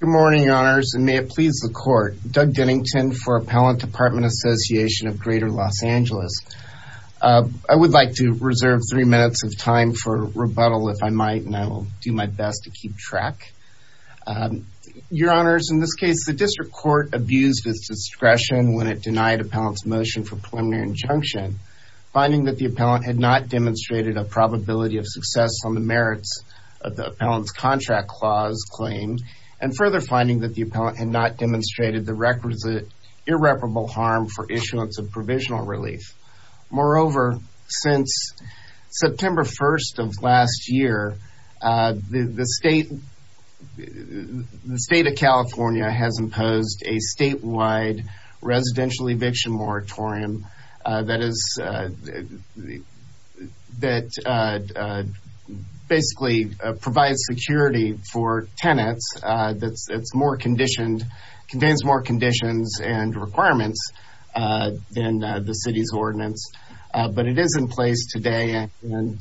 Good morning, Your Honors, and may it please the Court. Doug Dennington for Appellant Department Association of Greater Los Angeles. I would like to reserve three minutes of time for rebuttal, if I might, and I will do my best to keep track. Your Honors, in this case, the District Court abused its discretion when it denied Appellant's motion for preliminary injunction, finding that the Appellant had not demonstrated a probability of success on the merits of the Appellant's contract clause claimed, and further finding that the Appellant had not demonstrated the requisite irreparable harm for issuance of provisional relief. Moreover, since September 1st of last year, the State of California has imposed a statewide residential eviction moratorium that basically provides security for tenants that contains more conditions and requirements than the City's ordinance. But it is in place today, and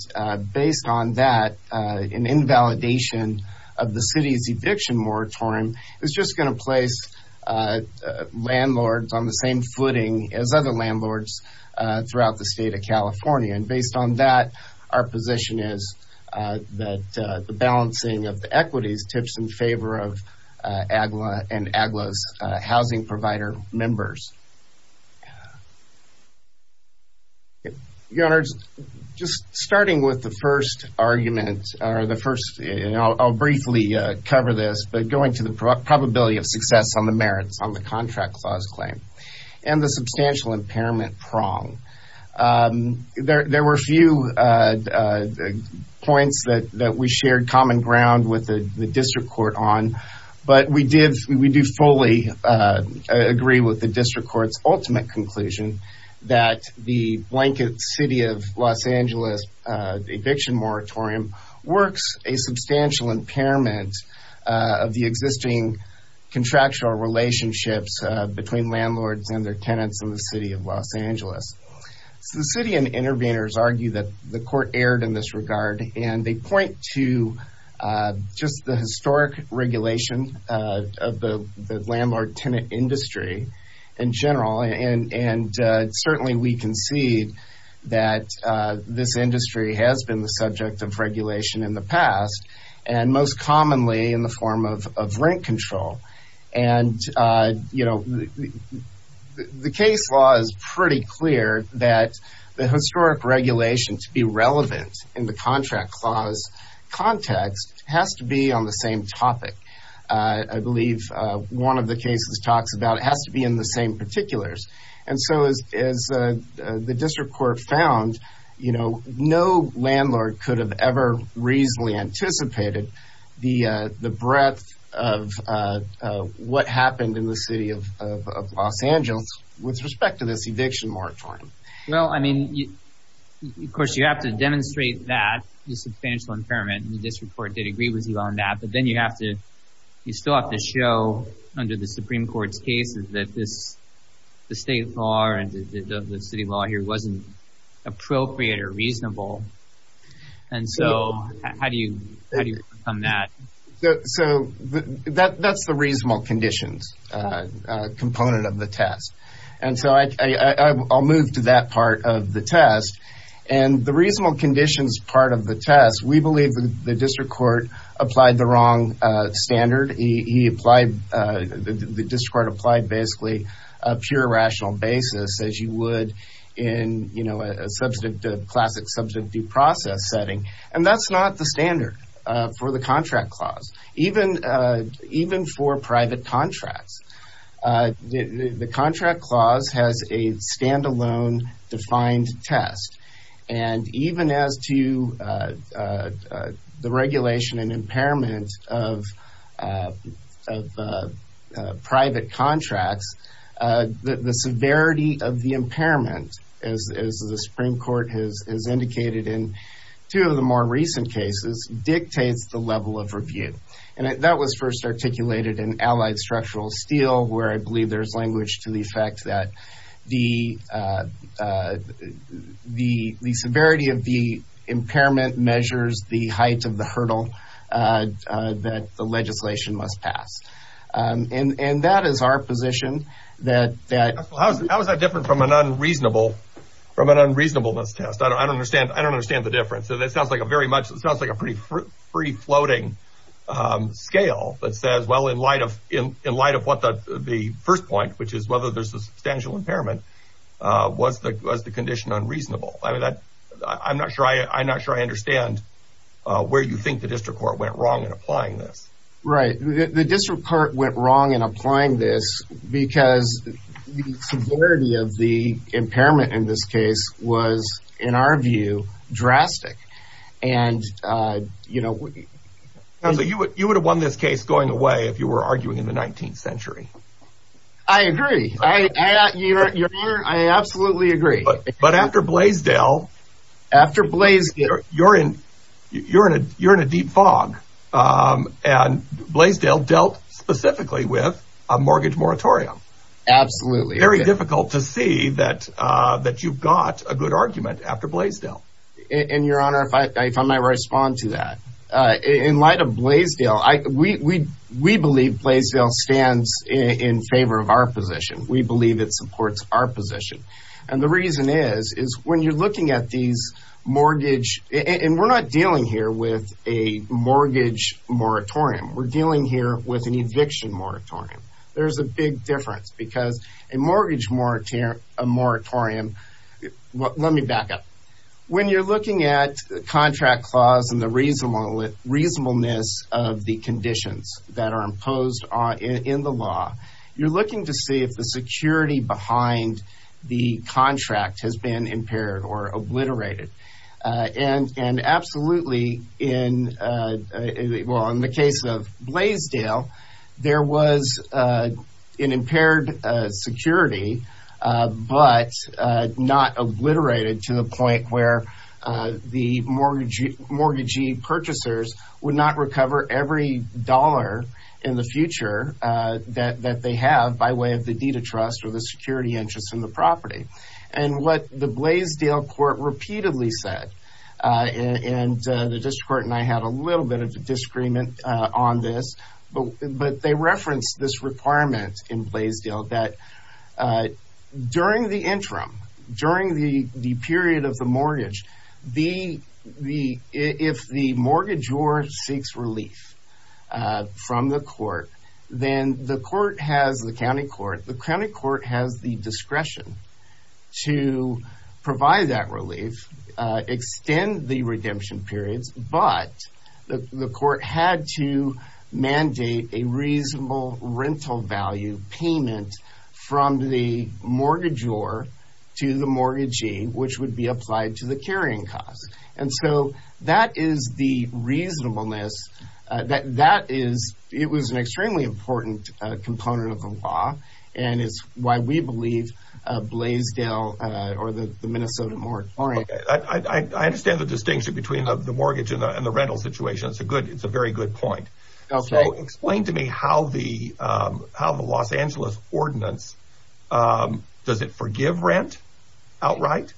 based on that, an invalidation of the City's eviction moratorium is just going to place landlords on the same footing as other landlords throughout the State of California. And based on that, our position is that the balancing of the equities tips in favor of AGLA and AGLA's housing provider members. Your Honors, just starting with the first argument, or the first, and I'll briefly cover this, but going to the probability of success on the merits on the contract clause claim and the substantial impairment prong. There were a few points that we shared common ground with the District Court on, but we do fully agree with the District Court's ultimate conclusion that the blanket City of Los Angeles eviction moratorium works a substantial impairment of the existing contractual relationships between landlords and their tenants in the City of Los Angeles. So the City and interveners argue that the Court erred in this regard, and they point to just the historic regulation of the landlord-tenant industry in general, and certainly we concede that this industry has been the subject of regulation in the past, and most commonly in the form of rent control. And, you know, the case law is pretty clear that the historic regulation to be relevant in the contract clause context has to be on the same topic. I believe one of the cases talks about it has to be in the same particulars. And so as the District Court found, you know, no landlord could have ever reasonably anticipated the breadth of what happened in the City of Los Angeles with respect to this eviction moratorium. Well, I mean, of course, you have to demonstrate that the substantial impairment, and the District Court did agree with you on that, but then you still have to show under the Supreme Court's cases that the state law and the city law here wasn't appropriate or reasonable. And so how do you overcome that? So that's the reasonable conditions component of the test. And so I'll move to that part of the test. And the reasonable conditions part of the test, we believe the District Court applied the wrong standard. The District Court applied basically a pure rational basis as you would in, you know, a classic subject due process setting. And that's not the standard for the contract clause, even for private contracts. The contract clause has a standalone defined test. And even as to the regulation and impairment of private contracts, the severity of the impairment, as the Supreme Court has indicated in two of the more recent cases, dictates the level of review. And that was first articulated in Allied Structural Steel, where I believe there's language to the effect that the severity of the impairment measures the height of the hurdle that the legislation must pass. And that is our position. How is that different from an unreasonableness test? I don't understand the difference. It sounds like a pretty floating scale that says, well, in light of what the first point, which is whether there's a substantial impairment, was the condition unreasonable? I'm not sure I understand where you think the District Court went wrong in applying this. Right. The District Court went wrong in applying this because the severity of the impairment in this case was, in our view, drastic. And, you know, you would have won this case going away if you were arguing in the 19th century. I agree. I absolutely agree. But after Blaisdell, you're in a deep fog. And Blaisdell dealt specifically with a mortgage moratorium. Absolutely. Very difficult to see that you've got a good argument after Blaisdell. And, Your Honor, if I might respond to that. In light of Blaisdell, we believe Blaisdell stands in favor of our position. We believe it supports our position. And the reason is, is when you're looking at these mortgage – and we're not dealing here with a mortgage moratorium. We're dealing here with an eviction moratorium. There's a big difference because a mortgage moratorium – let me back up. When you're looking at the contract clause and the reasonableness of the conditions that are imposed in the law, you're looking to see if the security behind the contract has been impaired or obliterated. And absolutely, in – well, in the case of Blaisdell, there was an impaired security, but not obliterated to the point where the mortgagee purchasers would not recover every dollar in the future that they have by way of the deed of trust or the security interest in the property. And what the Blaisdell court repeatedly said, and the district court and I had a little bit of a disagreement on this, but they referenced this requirement in Blaisdell that during the interim, during the period of the mortgage, if the mortgagor seeks relief from the court, then the court has – the county court – the county court has the discretion to provide that relief, extend the redemption periods, but the court had to mandate a reasonable rental value payment from the mortgagor to the mortgagee, which would be applied to the carrying cost. And so that is the reasonableness. That is – it was an extremely important component of the law, and it's why we believe Blaisdell or the Minnesota Mortuary – Okay. I understand the distinction between the mortgage and the rental situation. It's a good – it's a very good point. Okay. So explain to me how the Los Angeles ordinance – does it forgive rent outright?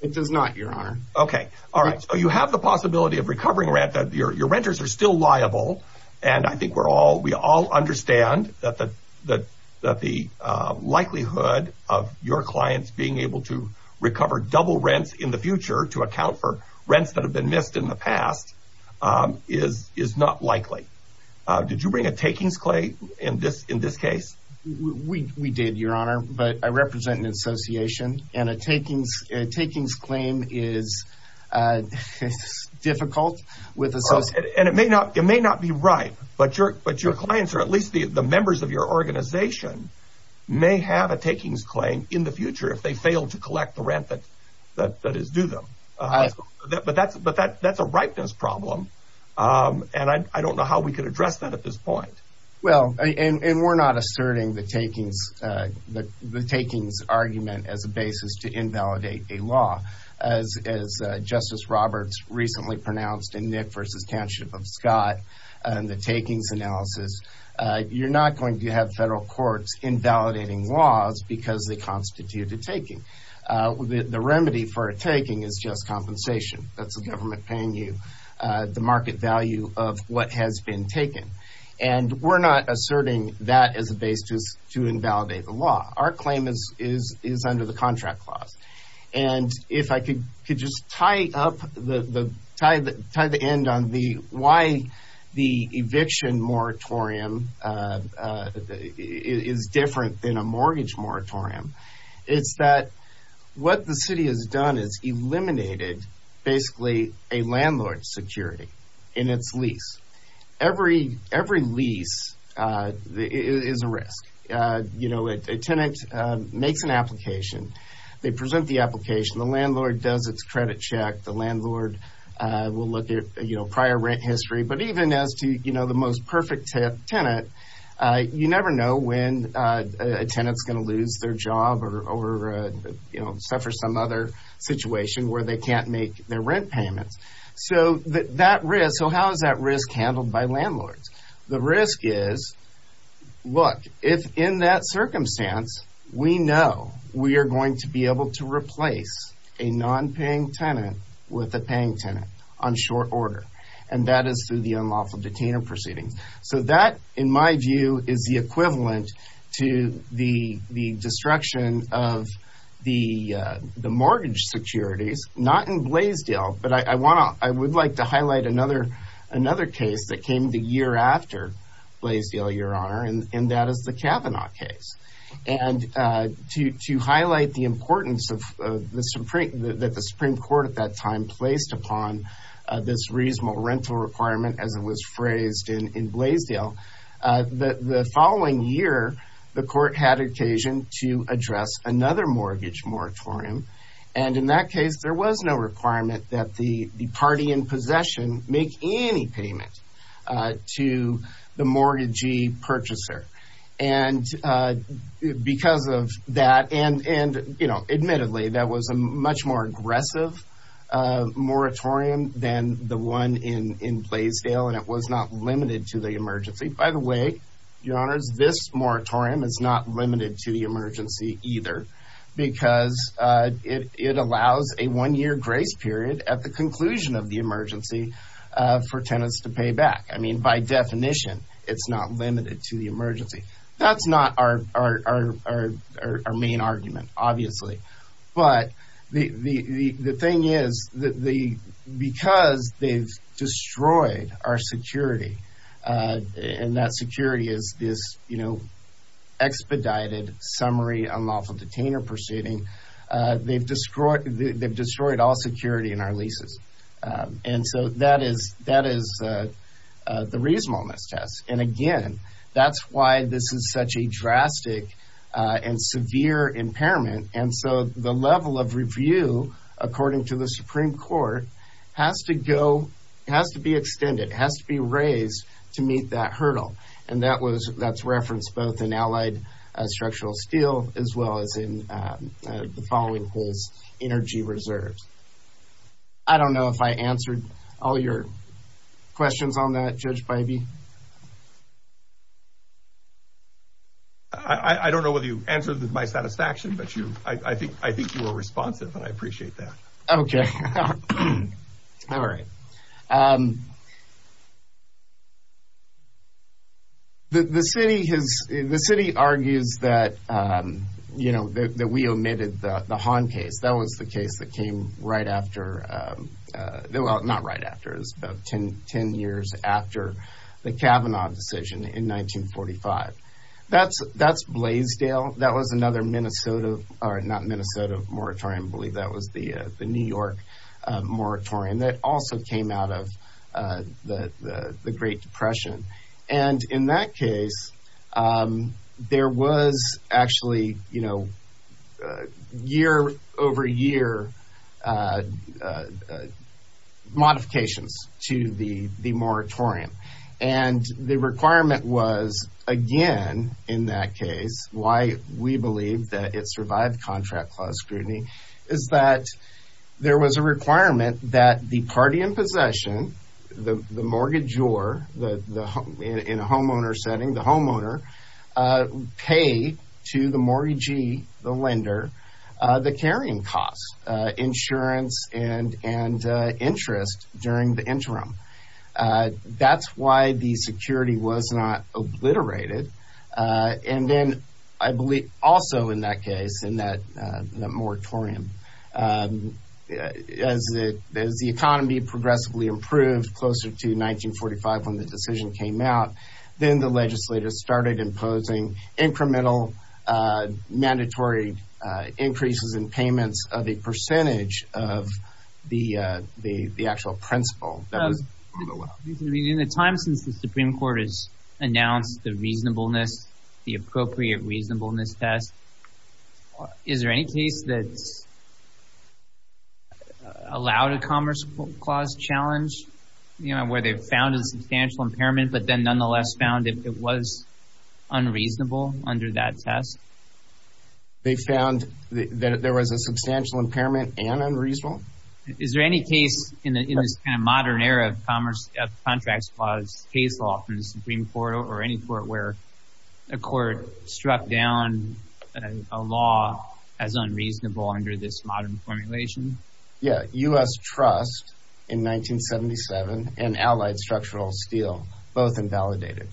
It does not, Your Honor. Okay. All right. So you have the possibility of recovering rent. Your renters are still liable, and I think we're all – we all understand that the likelihood of your clients being able to recover double rents in the future to account for rents that have been missed in the past is not likely. Did you bring a takings claim in this case? We did, Your Honor, but I represent an association, and a takings claim is difficult with – And it may not be right, but your clients, or at least the members of your organization, may have a takings claim in the future if they fail to collect the rent that is due them. But that's a ripeness problem, and I don't know how we could address that at this point. Well, and we're not asserting the takings argument as a basis to invalidate a law. As Justice Roberts recently pronounced in Nick v. Township of Scott in the takings analysis, you're not going to have federal courts invalidating laws because they constitute a taking. The remedy for a taking is just compensation. That's the government paying you the market value of what has been taken, and we're not asserting that as a basis to invalidate the law. Our claim is under the contract clause. And if I could just tie the end on why the eviction moratorium is different than a mortgage moratorium, it's that what the city has done is eliminated basically a landlord's security in its lease. Every lease is a risk. You know, a tenant makes an application. They present the application. The landlord does its credit check. The landlord will look at, you know, prior rent history. But even as to, you know, the most perfect tenant, you never know when a tenant's going to lose their job or, you know, suffer some other situation where they can't make their rent payments. So that risk, so how is that risk handled by landlords? The risk is, look, if in that circumstance we know we are going to be able to replace a nonpaying tenant with a paying tenant on short order, and that is through the unlawful detainer proceedings. So that, in my view, is the equivalent to the destruction of the mortgage securities, not in Blaisdell, but I would like to highlight another case that came the year after Blaisdell, Your Honor, and that is the Kavanaugh case. And to highlight the importance that the Supreme Court at that time placed upon this reasonable rental requirement as it was phrased in Blaisdell, the following year the court had occasion to address another mortgage moratorium. And in that case there was no requirement that the party in possession make any payment to the mortgagee purchaser. And because of that, and, you know, admittedly that was a much more aggressive moratorium than the one in Blaisdell, and it was not limited to the emergency. By the way, Your Honors, this moratorium is not limited to the emergency either because it allows a one-year grace period at the conclusion of the emergency for tenants to pay back. I mean, by definition, it's not limited to the emergency. That's not our main argument, obviously. But the thing is, because they've destroyed our security, and that security is, you know, expedited, summary, unlawful detainer proceeding, they've destroyed all security in our leases. And so that is the reasonableness test. And again, that's why this is such a drastic and severe impairment. And so the level of review, according to the Supreme Court, has to go, has to be extended, has to be raised to meet that hurdle. And that's referenced both in Allied Structural Steel as well as in the following case, Energy Reserves. I don't know if I answered all your questions on that, Judge Bybee. I don't know whether you answered my satisfaction, but I think you were responsive, and I appreciate that. Okay. All right. The city argues that, you know, that we omitted the Hahn case. That was the case that came right after, well, not right after. It was about 10 years after the Kavanaugh decision in 1945. That's Blaisdell. That was another Minnesota, or not Minnesota moratorium. I believe that was the New York moratorium that also came out of the Great Depression. And in that case, there was actually, you know, year over year modifications to the moratorium. And the requirement was, again, in that case, why we believe that it survived contract clause scrutiny, is that there was a requirement that the party in possession, the mortgagor in a homeowner setting, the homeowner, pay to the mortgagee, the lender, the carrying costs, insurance and interest during the interim. That's why the security was not obliterated. And then I believe also in that case, in that moratorium, as the economy progressively improved closer to 1945 when the decision came out, then the legislators started imposing incremental mandatory increases in payments of a percentage of the actual principal. In the time since the Supreme Court has announced the reasonableness, the appropriate reasonableness test, is there any case that's allowed a commerce clause challenge, you know, where they've found a substantial impairment, but then nonetheless found it was unreasonable under that test? They found that there was a substantial impairment and unreasonable? Is there any case in this kind of modern era of commerce contracts clause case law from the Supreme Court or any court where a court struck down a law as unreasonable under this modern formulation? Yeah, U.S. Trust in 1977 and Allied Structural Steel, both invalidated.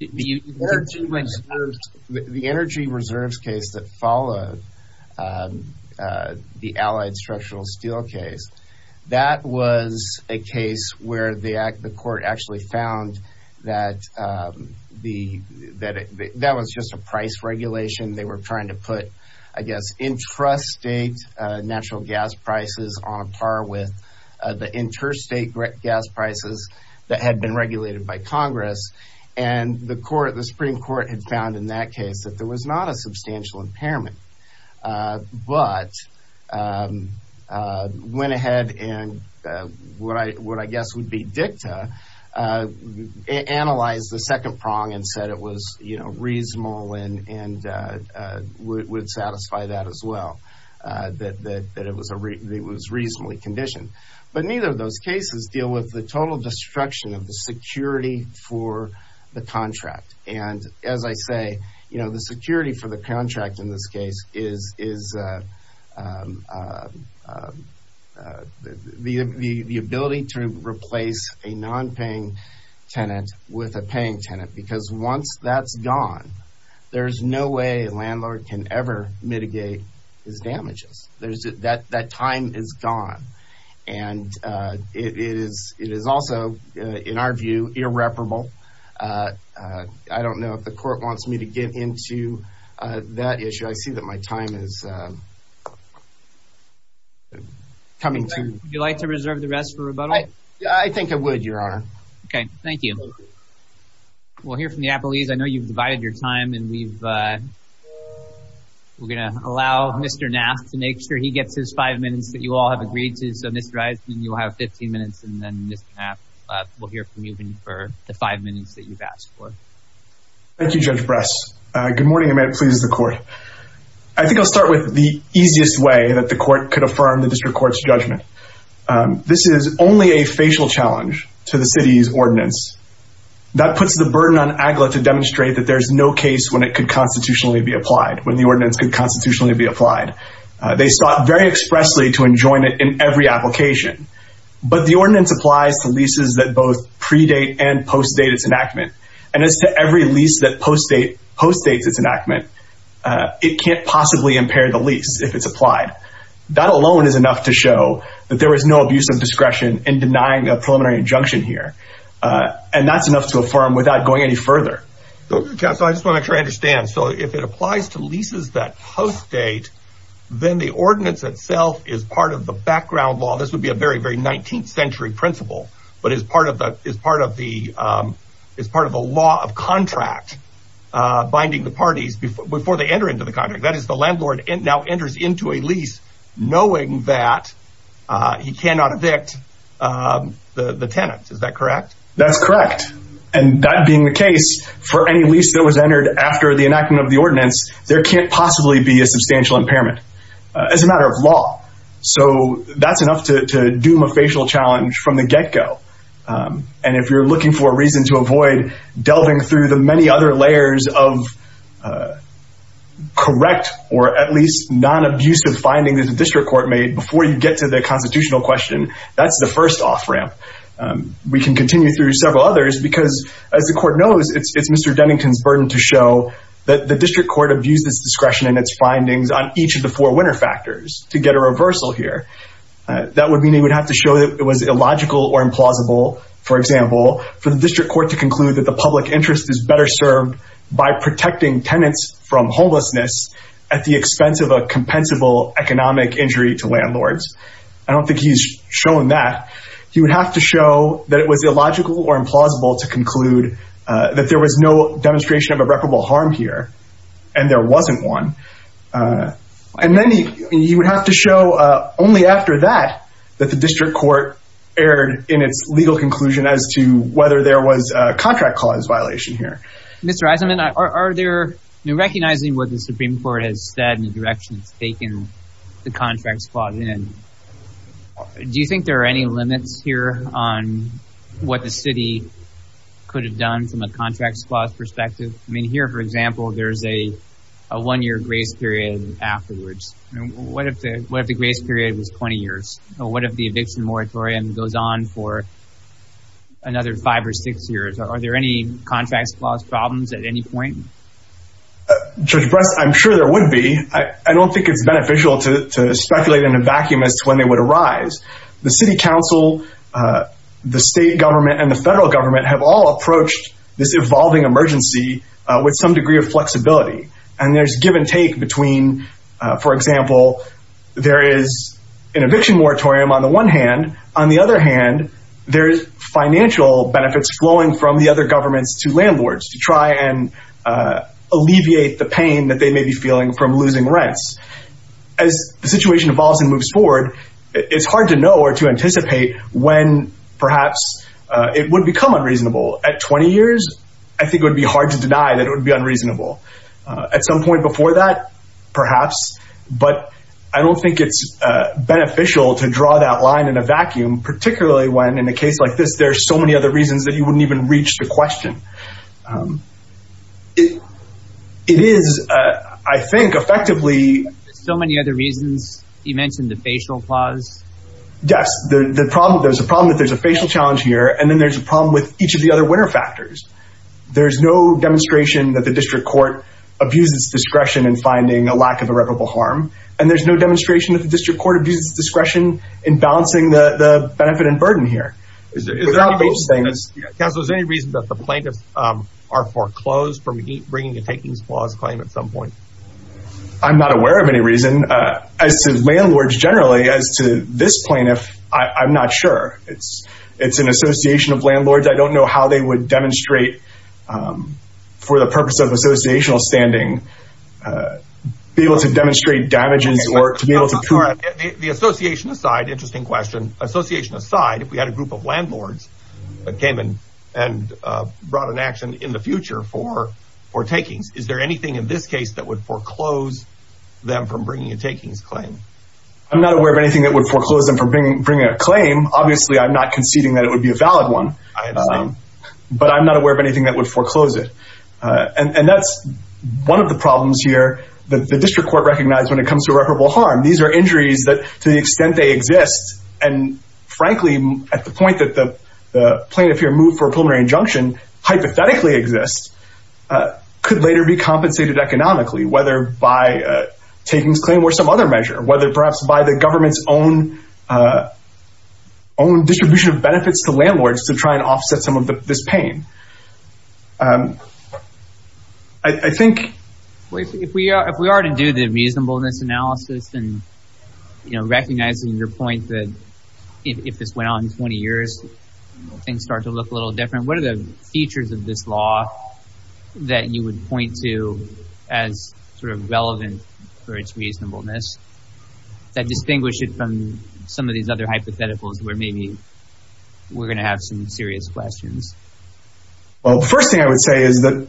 The energy reserves case that followed the Allied Structural Steel case, that was a case where the court actually found that that was just a price regulation. They were trying to put, I guess, intrastate natural gas prices on par with the interstate gas prices that had been regulated by Congress. And the Supreme Court had found in that case that there was not a substantial impairment, but went ahead and what I guess would be dicta, analyzed the second prong and said it was reasonable and would satisfy that as well, that it was reasonably conditioned. But neither of those cases deal with the total destruction of the security for the contract. And as I say, the security for the contract in this case is the ability to replace a nonpaying tenant with a paying tenant, because once that's gone, there's no way a landlord can ever mitigate his damages. That time is gone. And it is also, in our view, irreparable. I don't know if the court wants me to get into that issue. I see that my time is coming to… Would you like to reserve the rest for rebuttal? I think I would, Your Honor. Okay. Thank you. We'll hear from the Applees. I know you've divided your time, and we're going to allow Mr. Knapp to make sure he gets his five minutes that you all have agreed to. So, Mr. Eisen, you'll have 15 minutes, and then Mr. Knapp will hear from you for the five minutes that you've asked for. Thank you, Judge Bress. Good morning, and may it please the Court. I think I'll start with the easiest way that the Court could affirm the District Court's judgment. That puts the burden on AGLA to demonstrate that there's no case when it could constitutionally be applied, when the ordinance could constitutionally be applied. They sought very expressly to enjoin it in every application. But the ordinance applies to leases that both pre-date and post-date its enactment. And as to every lease that post-dates its enactment, it can't possibly impair the lease if it's applied. That alone is enough to show that there is no abuse of discretion in denying a preliminary injunction here. And that's enough to affirm without going any further. So, I just want to make sure I understand. So, if it applies to leases that post-date, then the ordinance itself is part of the background law. This would be a very, very 19th century principle, but it's part of the law of contract, binding the parties before they enter into the contract. That is, the landlord now enters into a lease knowing that he cannot evict the tenant. Is that correct? That's correct. And that being the case, for any lease that was entered after the enactment of the ordinance, there can't possibly be a substantial impairment. It's a matter of law. So, that's enough to doom a facial challenge from the get-go. And if you're looking for a reason to avoid delving through the many other layers of correct, or at least non-abuse of finding that the district court made before you get to the constitutional question, that's the first off-ramp. We can continue through several others because, as the court knows, it's Mr. Dennington's burden to show that the district court abused its discretion and its findings on each of the four winner factors to get a reversal here. That would mean he would have to show that it was illogical or implausible, for example, for the district court to conclude that the public interest is better served by protecting tenants from homelessness at the expense of a compensable economic injury to landlords. I don't think he's shown that. He would have to show that it was illogical or implausible to conclude that there was no demonstration of irreparable harm here, and there wasn't one. And then he would have to show only after that that the district court erred in its legal conclusion as to whether there was a contract clause violation here. Mr. Eisenman, recognizing what the Supreme Court has said and the direction it's taken the contract clause in, do you think there are any limits here on what the city could have done from a contract clause perspective? I mean, here, for example, there's a one-year grace period afterwards. What if the grace period was 20 years? What if the eviction moratorium goes on for another five or six years? Are there any contract clause problems at any point? Judge Bress, I'm sure there would be. I don't think it's beneficial to speculate in a vacuum as to when they would arise. The city council, the state government, and the federal government have all approached this evolving emergency with some degree of flexibility. And there's give and take between, for example, there is an eviction moratorium on the one hand. On the other hand, there's financial benefits flowing from the other governments to landlords to try and alleviate the pain that they may be feeling from losing rents. As the situation evolves and moves forward, it's hard to know or to anticipate when, perhaps, it would become unreasonable. At 20 years, I think it would be hard to deny that it would be unreasonable. At some point before that, perhaps. But I don't think it's beneficial to draw that line in a vacuum, particularly when, in a case like this, there's so many other reasons that you wouldn't even reach the question. It is, I think, effectively... So many other reasons. You mentioned the facial clause. Yes. There's a problem that there's a facial challenge here. And then there's a problem with each of the other winner factors. There's no demonstration that the district court abuses discretion in finding a lack of irreparable harm. And there's no demonstration that the district court abuses discretion in balancing the benefit and burden here. Counsel, is there any reason that the plaintiffs are foreclosed from bringing a takings clause claim at some point? I'm not aware of any reason. As to landlords generally, as to this plaintiff, I'm not sure. It's an association of landlords. I don't know how they would demonstrate, for the purpose of associational standing, be able to demonstrate damages or to be able to prove... The association aside, interesting question, association aside, if we had a group of landlords that came and brought an action in the future for takings, is there anything in this case that would foreclose them from bringing a takings claim? I'm not aware of anything that would foreclose them from bringing a claim. Obviously, I'm not conceding that it would be a valid one. I understand. But I'm not aware of anything that would foreclose it. And that's one of the problems here that the district court recognized when it comes to irreparable harm. These are injuries that, to the extent they exist, and frankly, at the point that the plaintiff here moved for a preliminary injunction, hypothetically exists, could later be compensated economically, whether by takings claim or some other measure, whether perhaps by the government's own distribution of benefits to landlords to try and offset some of this pain. I think... If we are to do the reasonableness analysis and recognizing your point that if this went on 20 years, things start to look a little different, what are the features of this law that you would point to as sort of relevant for its reasonableness that distinguish it from some of these other hypotheticals where maybe we're going to have some serious questions? Well, the first thing I would say is that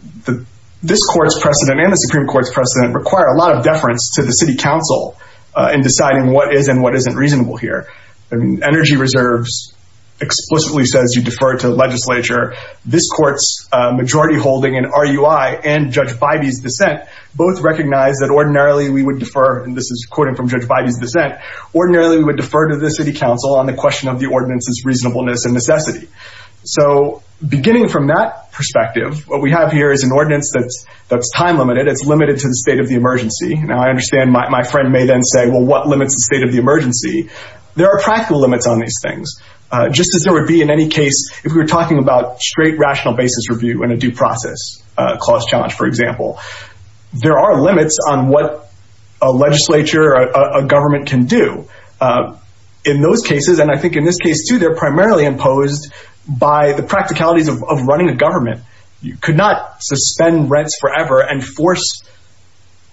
this court's precedent and the Supreme Court's precedent require a lot of deference to the city council in deciding what is and what isn't reasonable here. Energy reserves explicitly says you defer to the legislature. This court's majority holding in RUI and Judge Bidey's dissent both recognize that ordinarily we would defer, and this is quoting from Judge Bidey's dissent, ordinarily we would defer to the city council on the question of the ordinance's reasonableness and necessity. So beginning from that perspective, what we have here is an ordinance that's time-limited. It's limited to the state of the emergency. Now, I understand my friend may then say, well, what limits the state of the emergency? There are practical limits on these things. Just as there would be in any case if we were talking about straight rational basis review in a due process clause challenge, for example. There are limits on what a legislature or a government can do. In those cases, and I think in this case too, they're primarily imposed by the practicalities of running a government. You could not suspend rents forever and force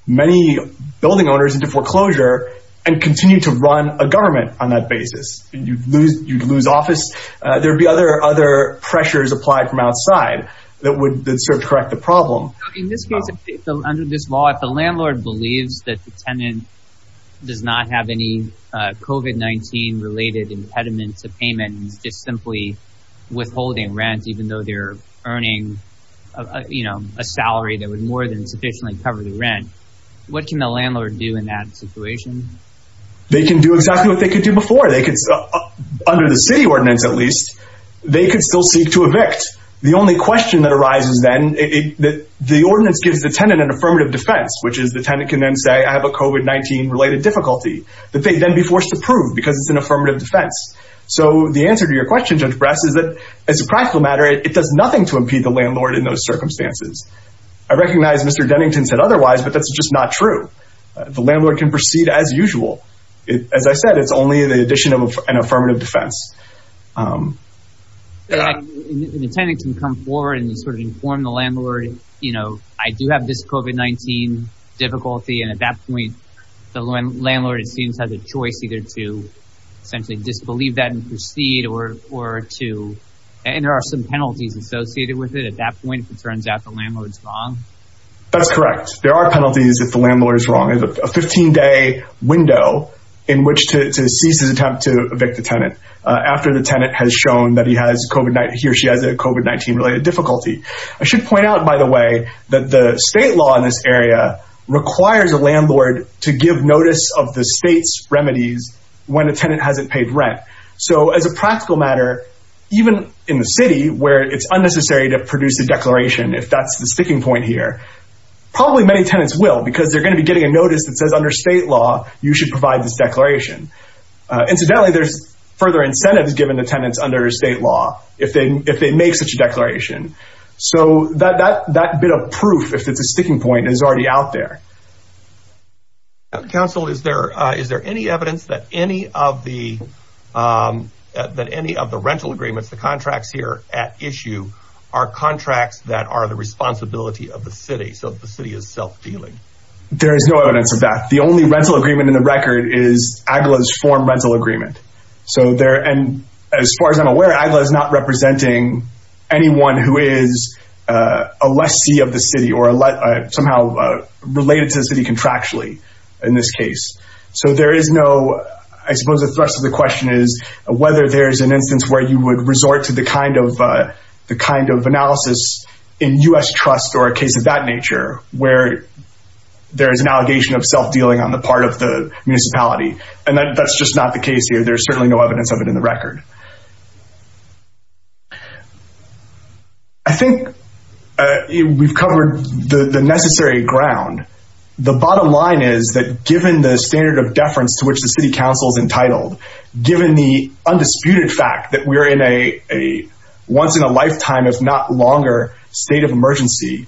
many building owners into foreclosure and continue to run a government on that basis. You'd lose office. There would be other pressures applied from outside that would sort of correct the problem. In this case, under this law, if the landlord believes that the tenant does not have any COVID-19-related impediment to payment, and is just simply withholding rent even though they're earning a salary that would more than sufficiently cover the rent, what can the landlord do in that situation? They can do exactly what they could do before. They could, under the city ordinance at least, they could still seek to evict. The only question that arises then, the ordinance gives the tenant an affirmative defense, which is the tenant can then say, I have a COVID-19-related difficulty that they'd then be forced to prove because it's an affirmative defense. So the answer to your question, Judge Bress, is that as a practical matter, it does nothing to impede the landlord in those circumstances. I recognize Mr. Dennington said otherwise, but that's just not true. The landlord can proceed as usual. As I said, it's only the addition of an affirmative defense. The tenant can come forward and sort of inform the landlord, you know, I do have this COVID-19 difficulty. And at that point, the landlord, it seems, has a choice either to essentially disbelieve that and proceed or to – and there are some penalties associated with it at that point if it turns out the landlord's wrong. That's correct. There are penalties if the landlord is wrong. There's a 15-day window in which to cease his attempt to evict the tenant after the tenant has shown that he has COVID-19 – he or she has a COVID-19-related difficulty. I should point out, by the way, that the state law in this area requires a landlord to give notice of the state's remedies when a tenant hasn't paid rent. So as a practical matter, even in the city where it's unnecessary to produce a declaration, if that's the sticking point here, probably many tenants will because they're going to be getting a notice that says under state law you should provide this declaration. Incidentally, there's further incentives given to tenants under state law if they make such a declaration. So that bit of proof, if it's a sticking point, is already out there. Council, is there any evidence that any of the rental agreements, the contracts here at issue, are contracts that are the responsibility of the city, so the city is self-dealing? There is no evidence of that. The only rental agreement in the record is AGLA's form rental agreement. As far as I'm aware, AGLA is not representing anyone who is a lessee of the city or somehow related to the city contractually in this case. So there is no – I suppose the thrust of the question is whether there is an instance where you would resort to the kind of analysis in U.S. trust or a case of that nature, where there is an allegation of self-dealing on the part of the municipality. And that's just not the case here. There's certainly no evidence of it in the record. I think we've covered the necessary ground. The bottom line is that given the standard of deference to which the city council is entitled, given the undisputed fact that we're in a once-in-a-lifetime-if-not-longer state of emergency,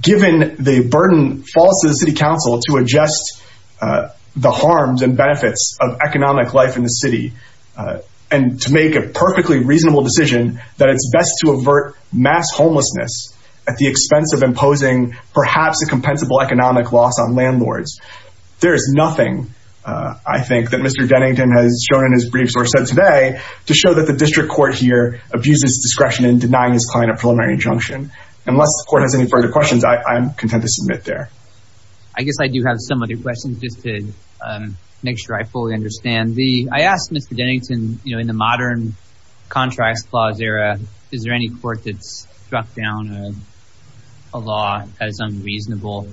given the burden falls to the city council to adjust the harms and benefits of economic life in the city, and to make a perfectly reasonable decision that it's best to avert mass homelessness at the expense of imposing perhaps a compensable economic loss on landlords. There is nothing, I think, that Mr. Dennington has shown in his briefs or said today to show that the district court here abuses discretion in denying his client a preliminary injunction. Unless the court has any further questions, I'm content to submit there. I guess I do have some other questions just to make sure I fully understand. I asked Mr. Dennington, you know, in the modern contracts clause era, is there any court that's struck down a law as unreasonable?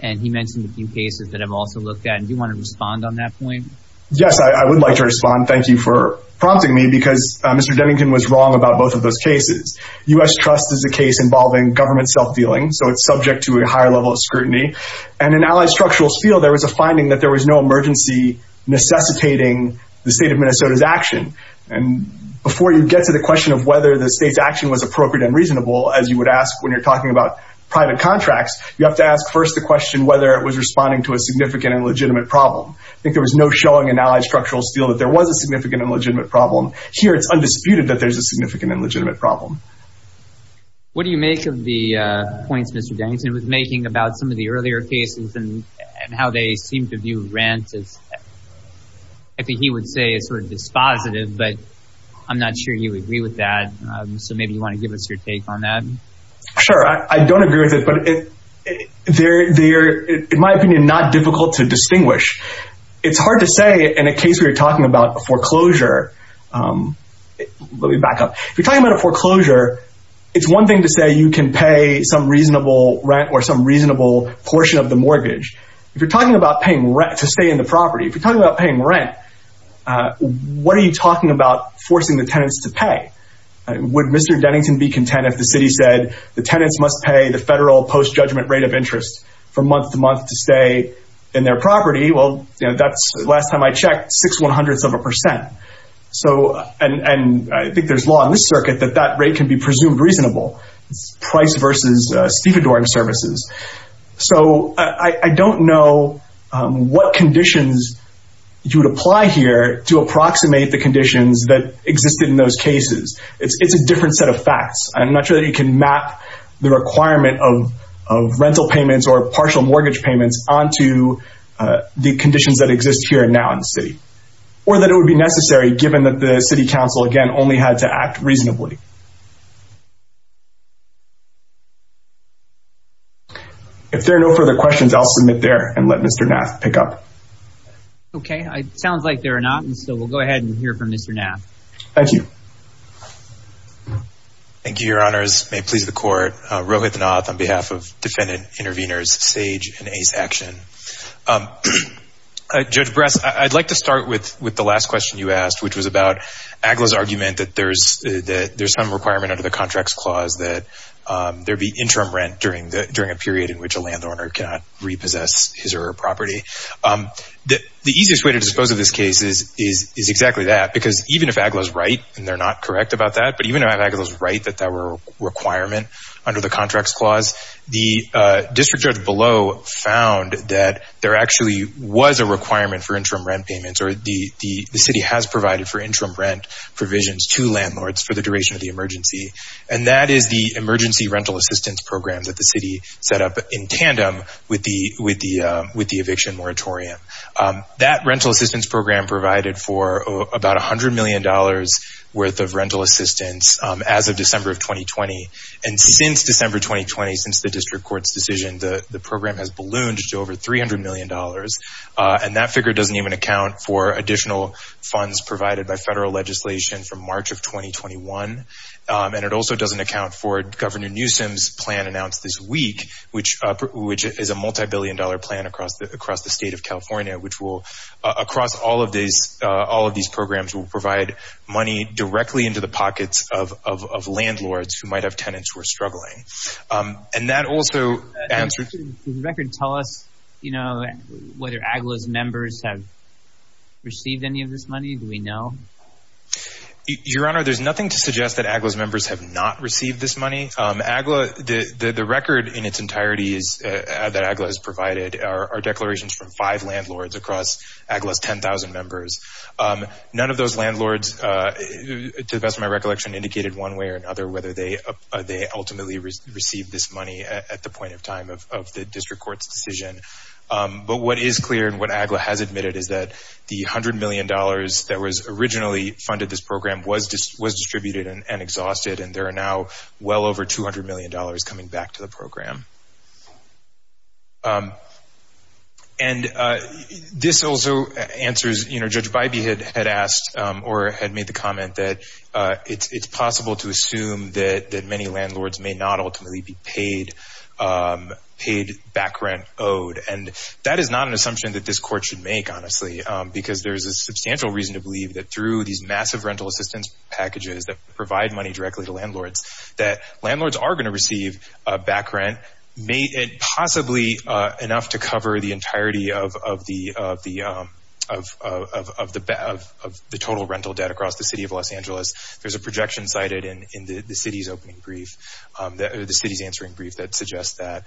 And he mentioned a few cases that I've also looked at. Do you want to respond on that point? Yes, I would like to respond. Thank you for prompting me because Mr. Dennington was wrong about both of those cases. U.S. Trust is a case involving government self-dealing, so it's subject to a higher level of scrutiny. And in Allied Structural Steel, there was a finding that there was no emergency necessitating the state of Minnesota's action. And before you get to the question of whether the state's action was appropriate and reasonable, as you would ask when you're talking about private contracts, you have to ask first the question whether it was responding to a significant and legitimate problem. I think there was no showing in Allied Structural Steel that there was a significant and legitimate problem. Here, it's undisputed that there's a significant and legitimate problem. What do you make of the points Mr. Dennington was making about some of the earlier cases and how they seem to view rent? I think he would say it's sort of dispositive, but I'm not sure you would agree with that. So maybe you want to give us your take on that? Sure. I don't agree with it, but they're, in my opinion, not difficult to distinguish. It's hard to say in a case where you're talking about a foreclosure. Let me back up. If you're talking about a foreclosure, it's one thing to say you can pay some reasonable rent or some reasonable portion of the mortgage. If you're talking about paying rent to stay in the property, if you're talking about paying rent, what are you talking about forcing the tenants to pay? Would Mr. Dennington be content if the city said the tenants must pay the federal post-judgment rate of interest for month-to-month to stay in their property? Well, that's, last time I checked, six one-hundredths of a percent. So, and I think there's law in this circuit that that rate can be presumed reasonable. It's price versus stevedoring services. So, I don't know what conditions you would apply here to approximate the conditions that existed in those cases. It's a different set of facts. I'm not sure that you can map the requirement of rental payments or partial mortgage payments onto the conditions that exist here and now in the city. Or that it would be necessary, given that the city council, again, only had to act reasonably. If there are no further questions, I'll submit there and let Mr. Nath pick up. Okay. It sounds like there are not. And so, we'll go ahead and hear from Mr. Nath. Thank you. Thank you, Your Honors. May it please the Court. Rohit Nath on behalf of Defendant Intervenors SAGE and ACE Action. Judge Brass, I'd like to start with the last question you asked, which was about AGLA's argument that there's some requirement under the Contracts Clause that there be interim rent during a period in which a landowner cannot repossess his or her property. The easiest way to dispose of this case is exactly that. Because even if AGLA's right, and they're not correct about that, but even if AGLA's right that that were a requirement under the Contracts Clause, the district judge below found that there actually was a requirement for interim rent payments or the city has provided for interim rent provisions to landlords for the duration of the emergency. And that is the Emergency Rental Assistance Program that the city set up in tandem with the eviction moratorium. That Rental Assistance Program provided for about $100 million worth of rental assistance as of December of 2020. And since December 2020, since the district court's decision, the program has ballooned to over $300 million. And that figure doesn't even account for additional funds provided by federal legislation from March of 2021. And it also doesn't account for Governor Newsom's plan announced this week, which is a multibillion dollar plan across the state of California, which will across all of these programs will provide money directly into the pockets of landlords who might have tenants who are struggling. And that also answers... Does the record tell us, you know, whether AGLA's members have received any of this money? Do we know? Your Honor, there's nothing to suggest that AGLA's members have not received this money. AGLA, the record in its entirety is that AGLA has provided our declarations from five landlords across AGLA's 10,000 members. None of those landlords, to the best of my recollection, indicated one way or another whether they ultimately received this money at the point of time of the district court's decision. But what is clear and what AGLA has admitted is that the $100 million that was originally funded, this program was distributed and exhausted, and there are now well over $200 million coming back to the program. And this also answers, you know, Judge Bybee had asked or had made the comment that it's possible to assume that many landlords may not ultimately be paid back rent owed. And that is not an assumption that this court should make, honestly, because there is a substantial reason to believe that through these massive rental assistance packages that provide money directly to landlords, that landlords are going to receive back rent, possibly enough to cover the entirety of the total rental debt across the city of Los Angeles. There's a projection cited in the city's opening brief, the city's answering brief that suggests that.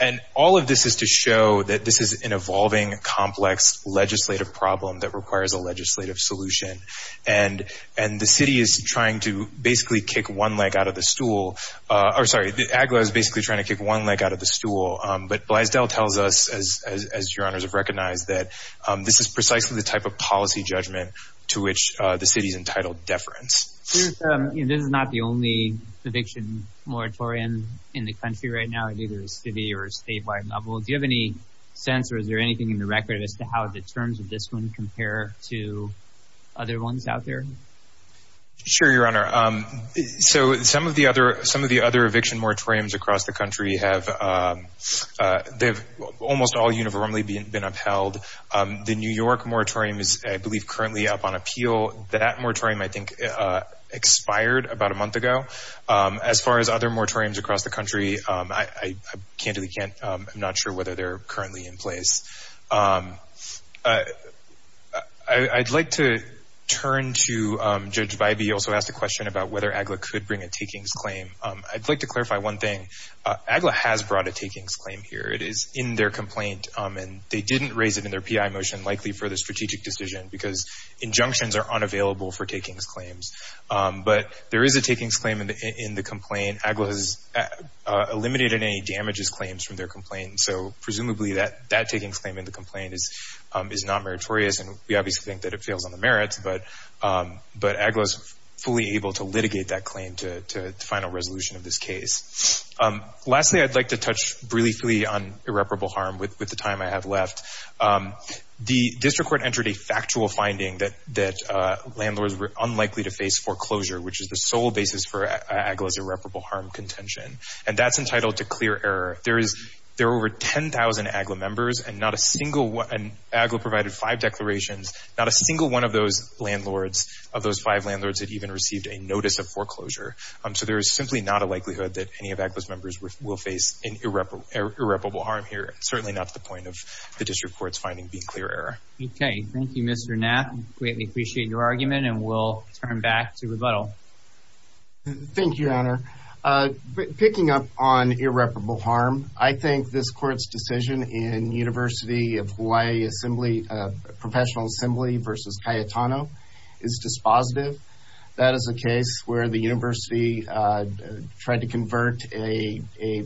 And all of this is to show that this is an evolving, complex legislative problem that requires a legislative solution. And the city is trying to basically kick one leg out of the stool. Or sorry, AGLA is basically trying to kick one leg out of the stool. But Blaisdell tells us, as your honors have recognized, that this is precisely the type of policy judgment to which the city's entitled deference. This is not the only eviction moratorium in the country right now, either city or statewide level. Do you have any sense or is there anything in the record as to how the terms of this one compare to other ones out there? Sure, your honor. So some of the other eviction moratoriums across the country have almost all uniformly been upheld. The New York moratorium is, I believe, currently up on appeal. That moratorium, I think, expired about a month ago. As far as other moratoriums across the country, I candidly can't. I'm not sure whether they're currently in place. I'd like to turn to Judge Vibey, who also asked a question about whether AGLA could bring a takings claim. I'd like to clarify one thing. AGLA has brought a takings claim here. It is in their complaint, and they didn't raise it in their PI motion, likely for the strategic decision, because injunctions are unavailable for takings claims. But there is a takings claim in the complaint. AGLA has eliminated any damages claims from their complaint, so presumably that takings claim in the complaint is not meritorious, and we obviously think that it fails on the merits. But AGLA is fully able to litigate that claim to the final resolution of this case. Lastly, I'd like to touch briefly on irreparable harm with the time I have left. The district court entered a factual finding that landlords were unlikely to face foreclosure, which is the sole basis for AGLA's irreparable harm contention, and that's entitled to clear error. There are over 10,000 AGLA members, and AGLA provided five declarations. Not a single one of those five landlords had even received a notice of foreclosure. So there is simply not a likelihood that any of AGLA's members will face irreparable harm here, certainly not to the point of the district court's finding being clear error. Okay. Thank you, Mr. Knapp. We greatly appreciate your argument, and we'll turn back to rebuttal. Thank you, Your Honor. Picking up on irreparable harm, I think this court's decision in University of Hawaii Assembly, Professional Assembly v. Cayetano, is dispositive. That is a case where the university tried to convert a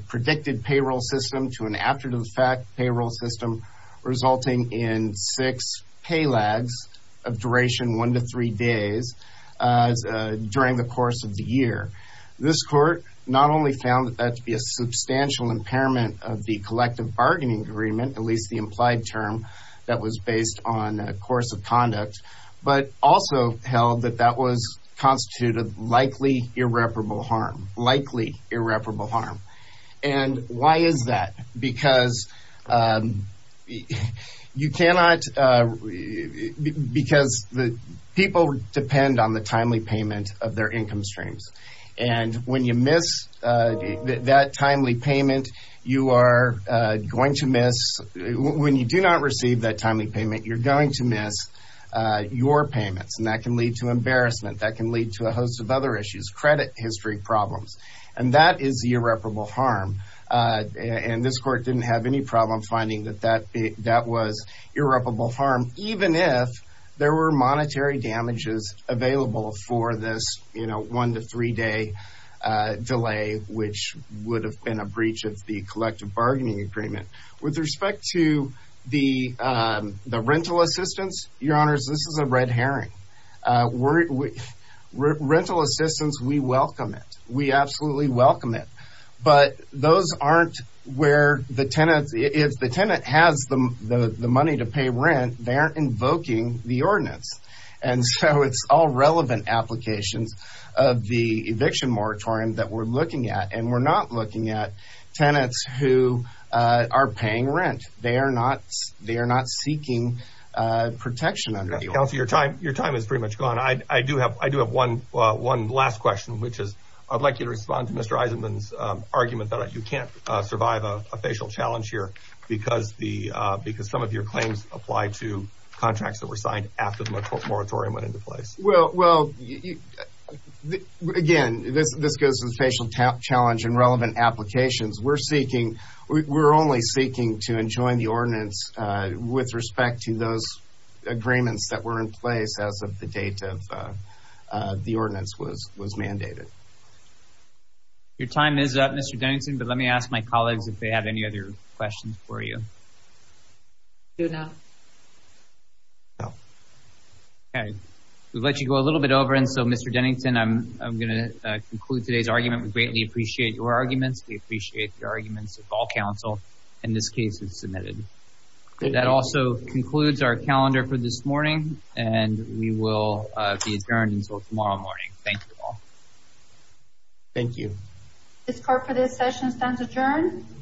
predicted payroll system to an after-the-fact payroll system, resulting in six pay lags of duration one to three days during the course of the year. This court not only found that that to be a substantial impairment of the collective bargaining agreement, at least the implied term that was based on course of conduct, but also held that that was constituted likely irreparable harm. Likely irreparable harm. And why is that? Because people depend on the timely payment of their income streams. And when you do not receive that timely payment, you're going to miss your payments. And that can lead to embarrassment. That can lead to a host of other issues, credit history problems. And that is irreparable harm. And this court didn't have any problem finding that that was irreparable harm, even if there were monetary damages available for this one-to-three-day delay, which would have been a breach of the collective bargaining agreement. With respect to the rental assistance, Your Honors, this is a red herring. Rental assistance, we welcome it. We absolutely welcome it. But those aren't where the tenants – if the tenant has the money to pay rent, they aren't invoking the ordinance. And so it's all relevant applications of the eviction moratorium that we're looking at. And we're not looking at tenants who are paying rent. They are not seeking protection under the ordinance. Counselor, your time is pretty much gone. I do have one last question, which is I'd like you to respond to Mr. Eisenman's argument that you can't survive a facial challenge here because some of your claims apply to contracts that were signed after the moratorium went into place. Well, again, this goes to the facial challenge and relevant applications. We're only seeking to enjoin the ordinance with respect to those agreements that were in place as of the date of the ordinance was mandated. Your time is up, Mr. Dennington. But let me ask my colleagues if they have any other questions for you. Do not. No. Okay. We'll let you go a little bit over. And so, Mr. Dennington, I'm going to conclude today's argument. We greatly appreciate your arguments. We appreciate the arguments of all counsel in this case that's submitted. That also concludes our calendar for this morning. And we will be adjourned until tomorrow morning. Thank you all. Thank you. This court for this session stands adjourned.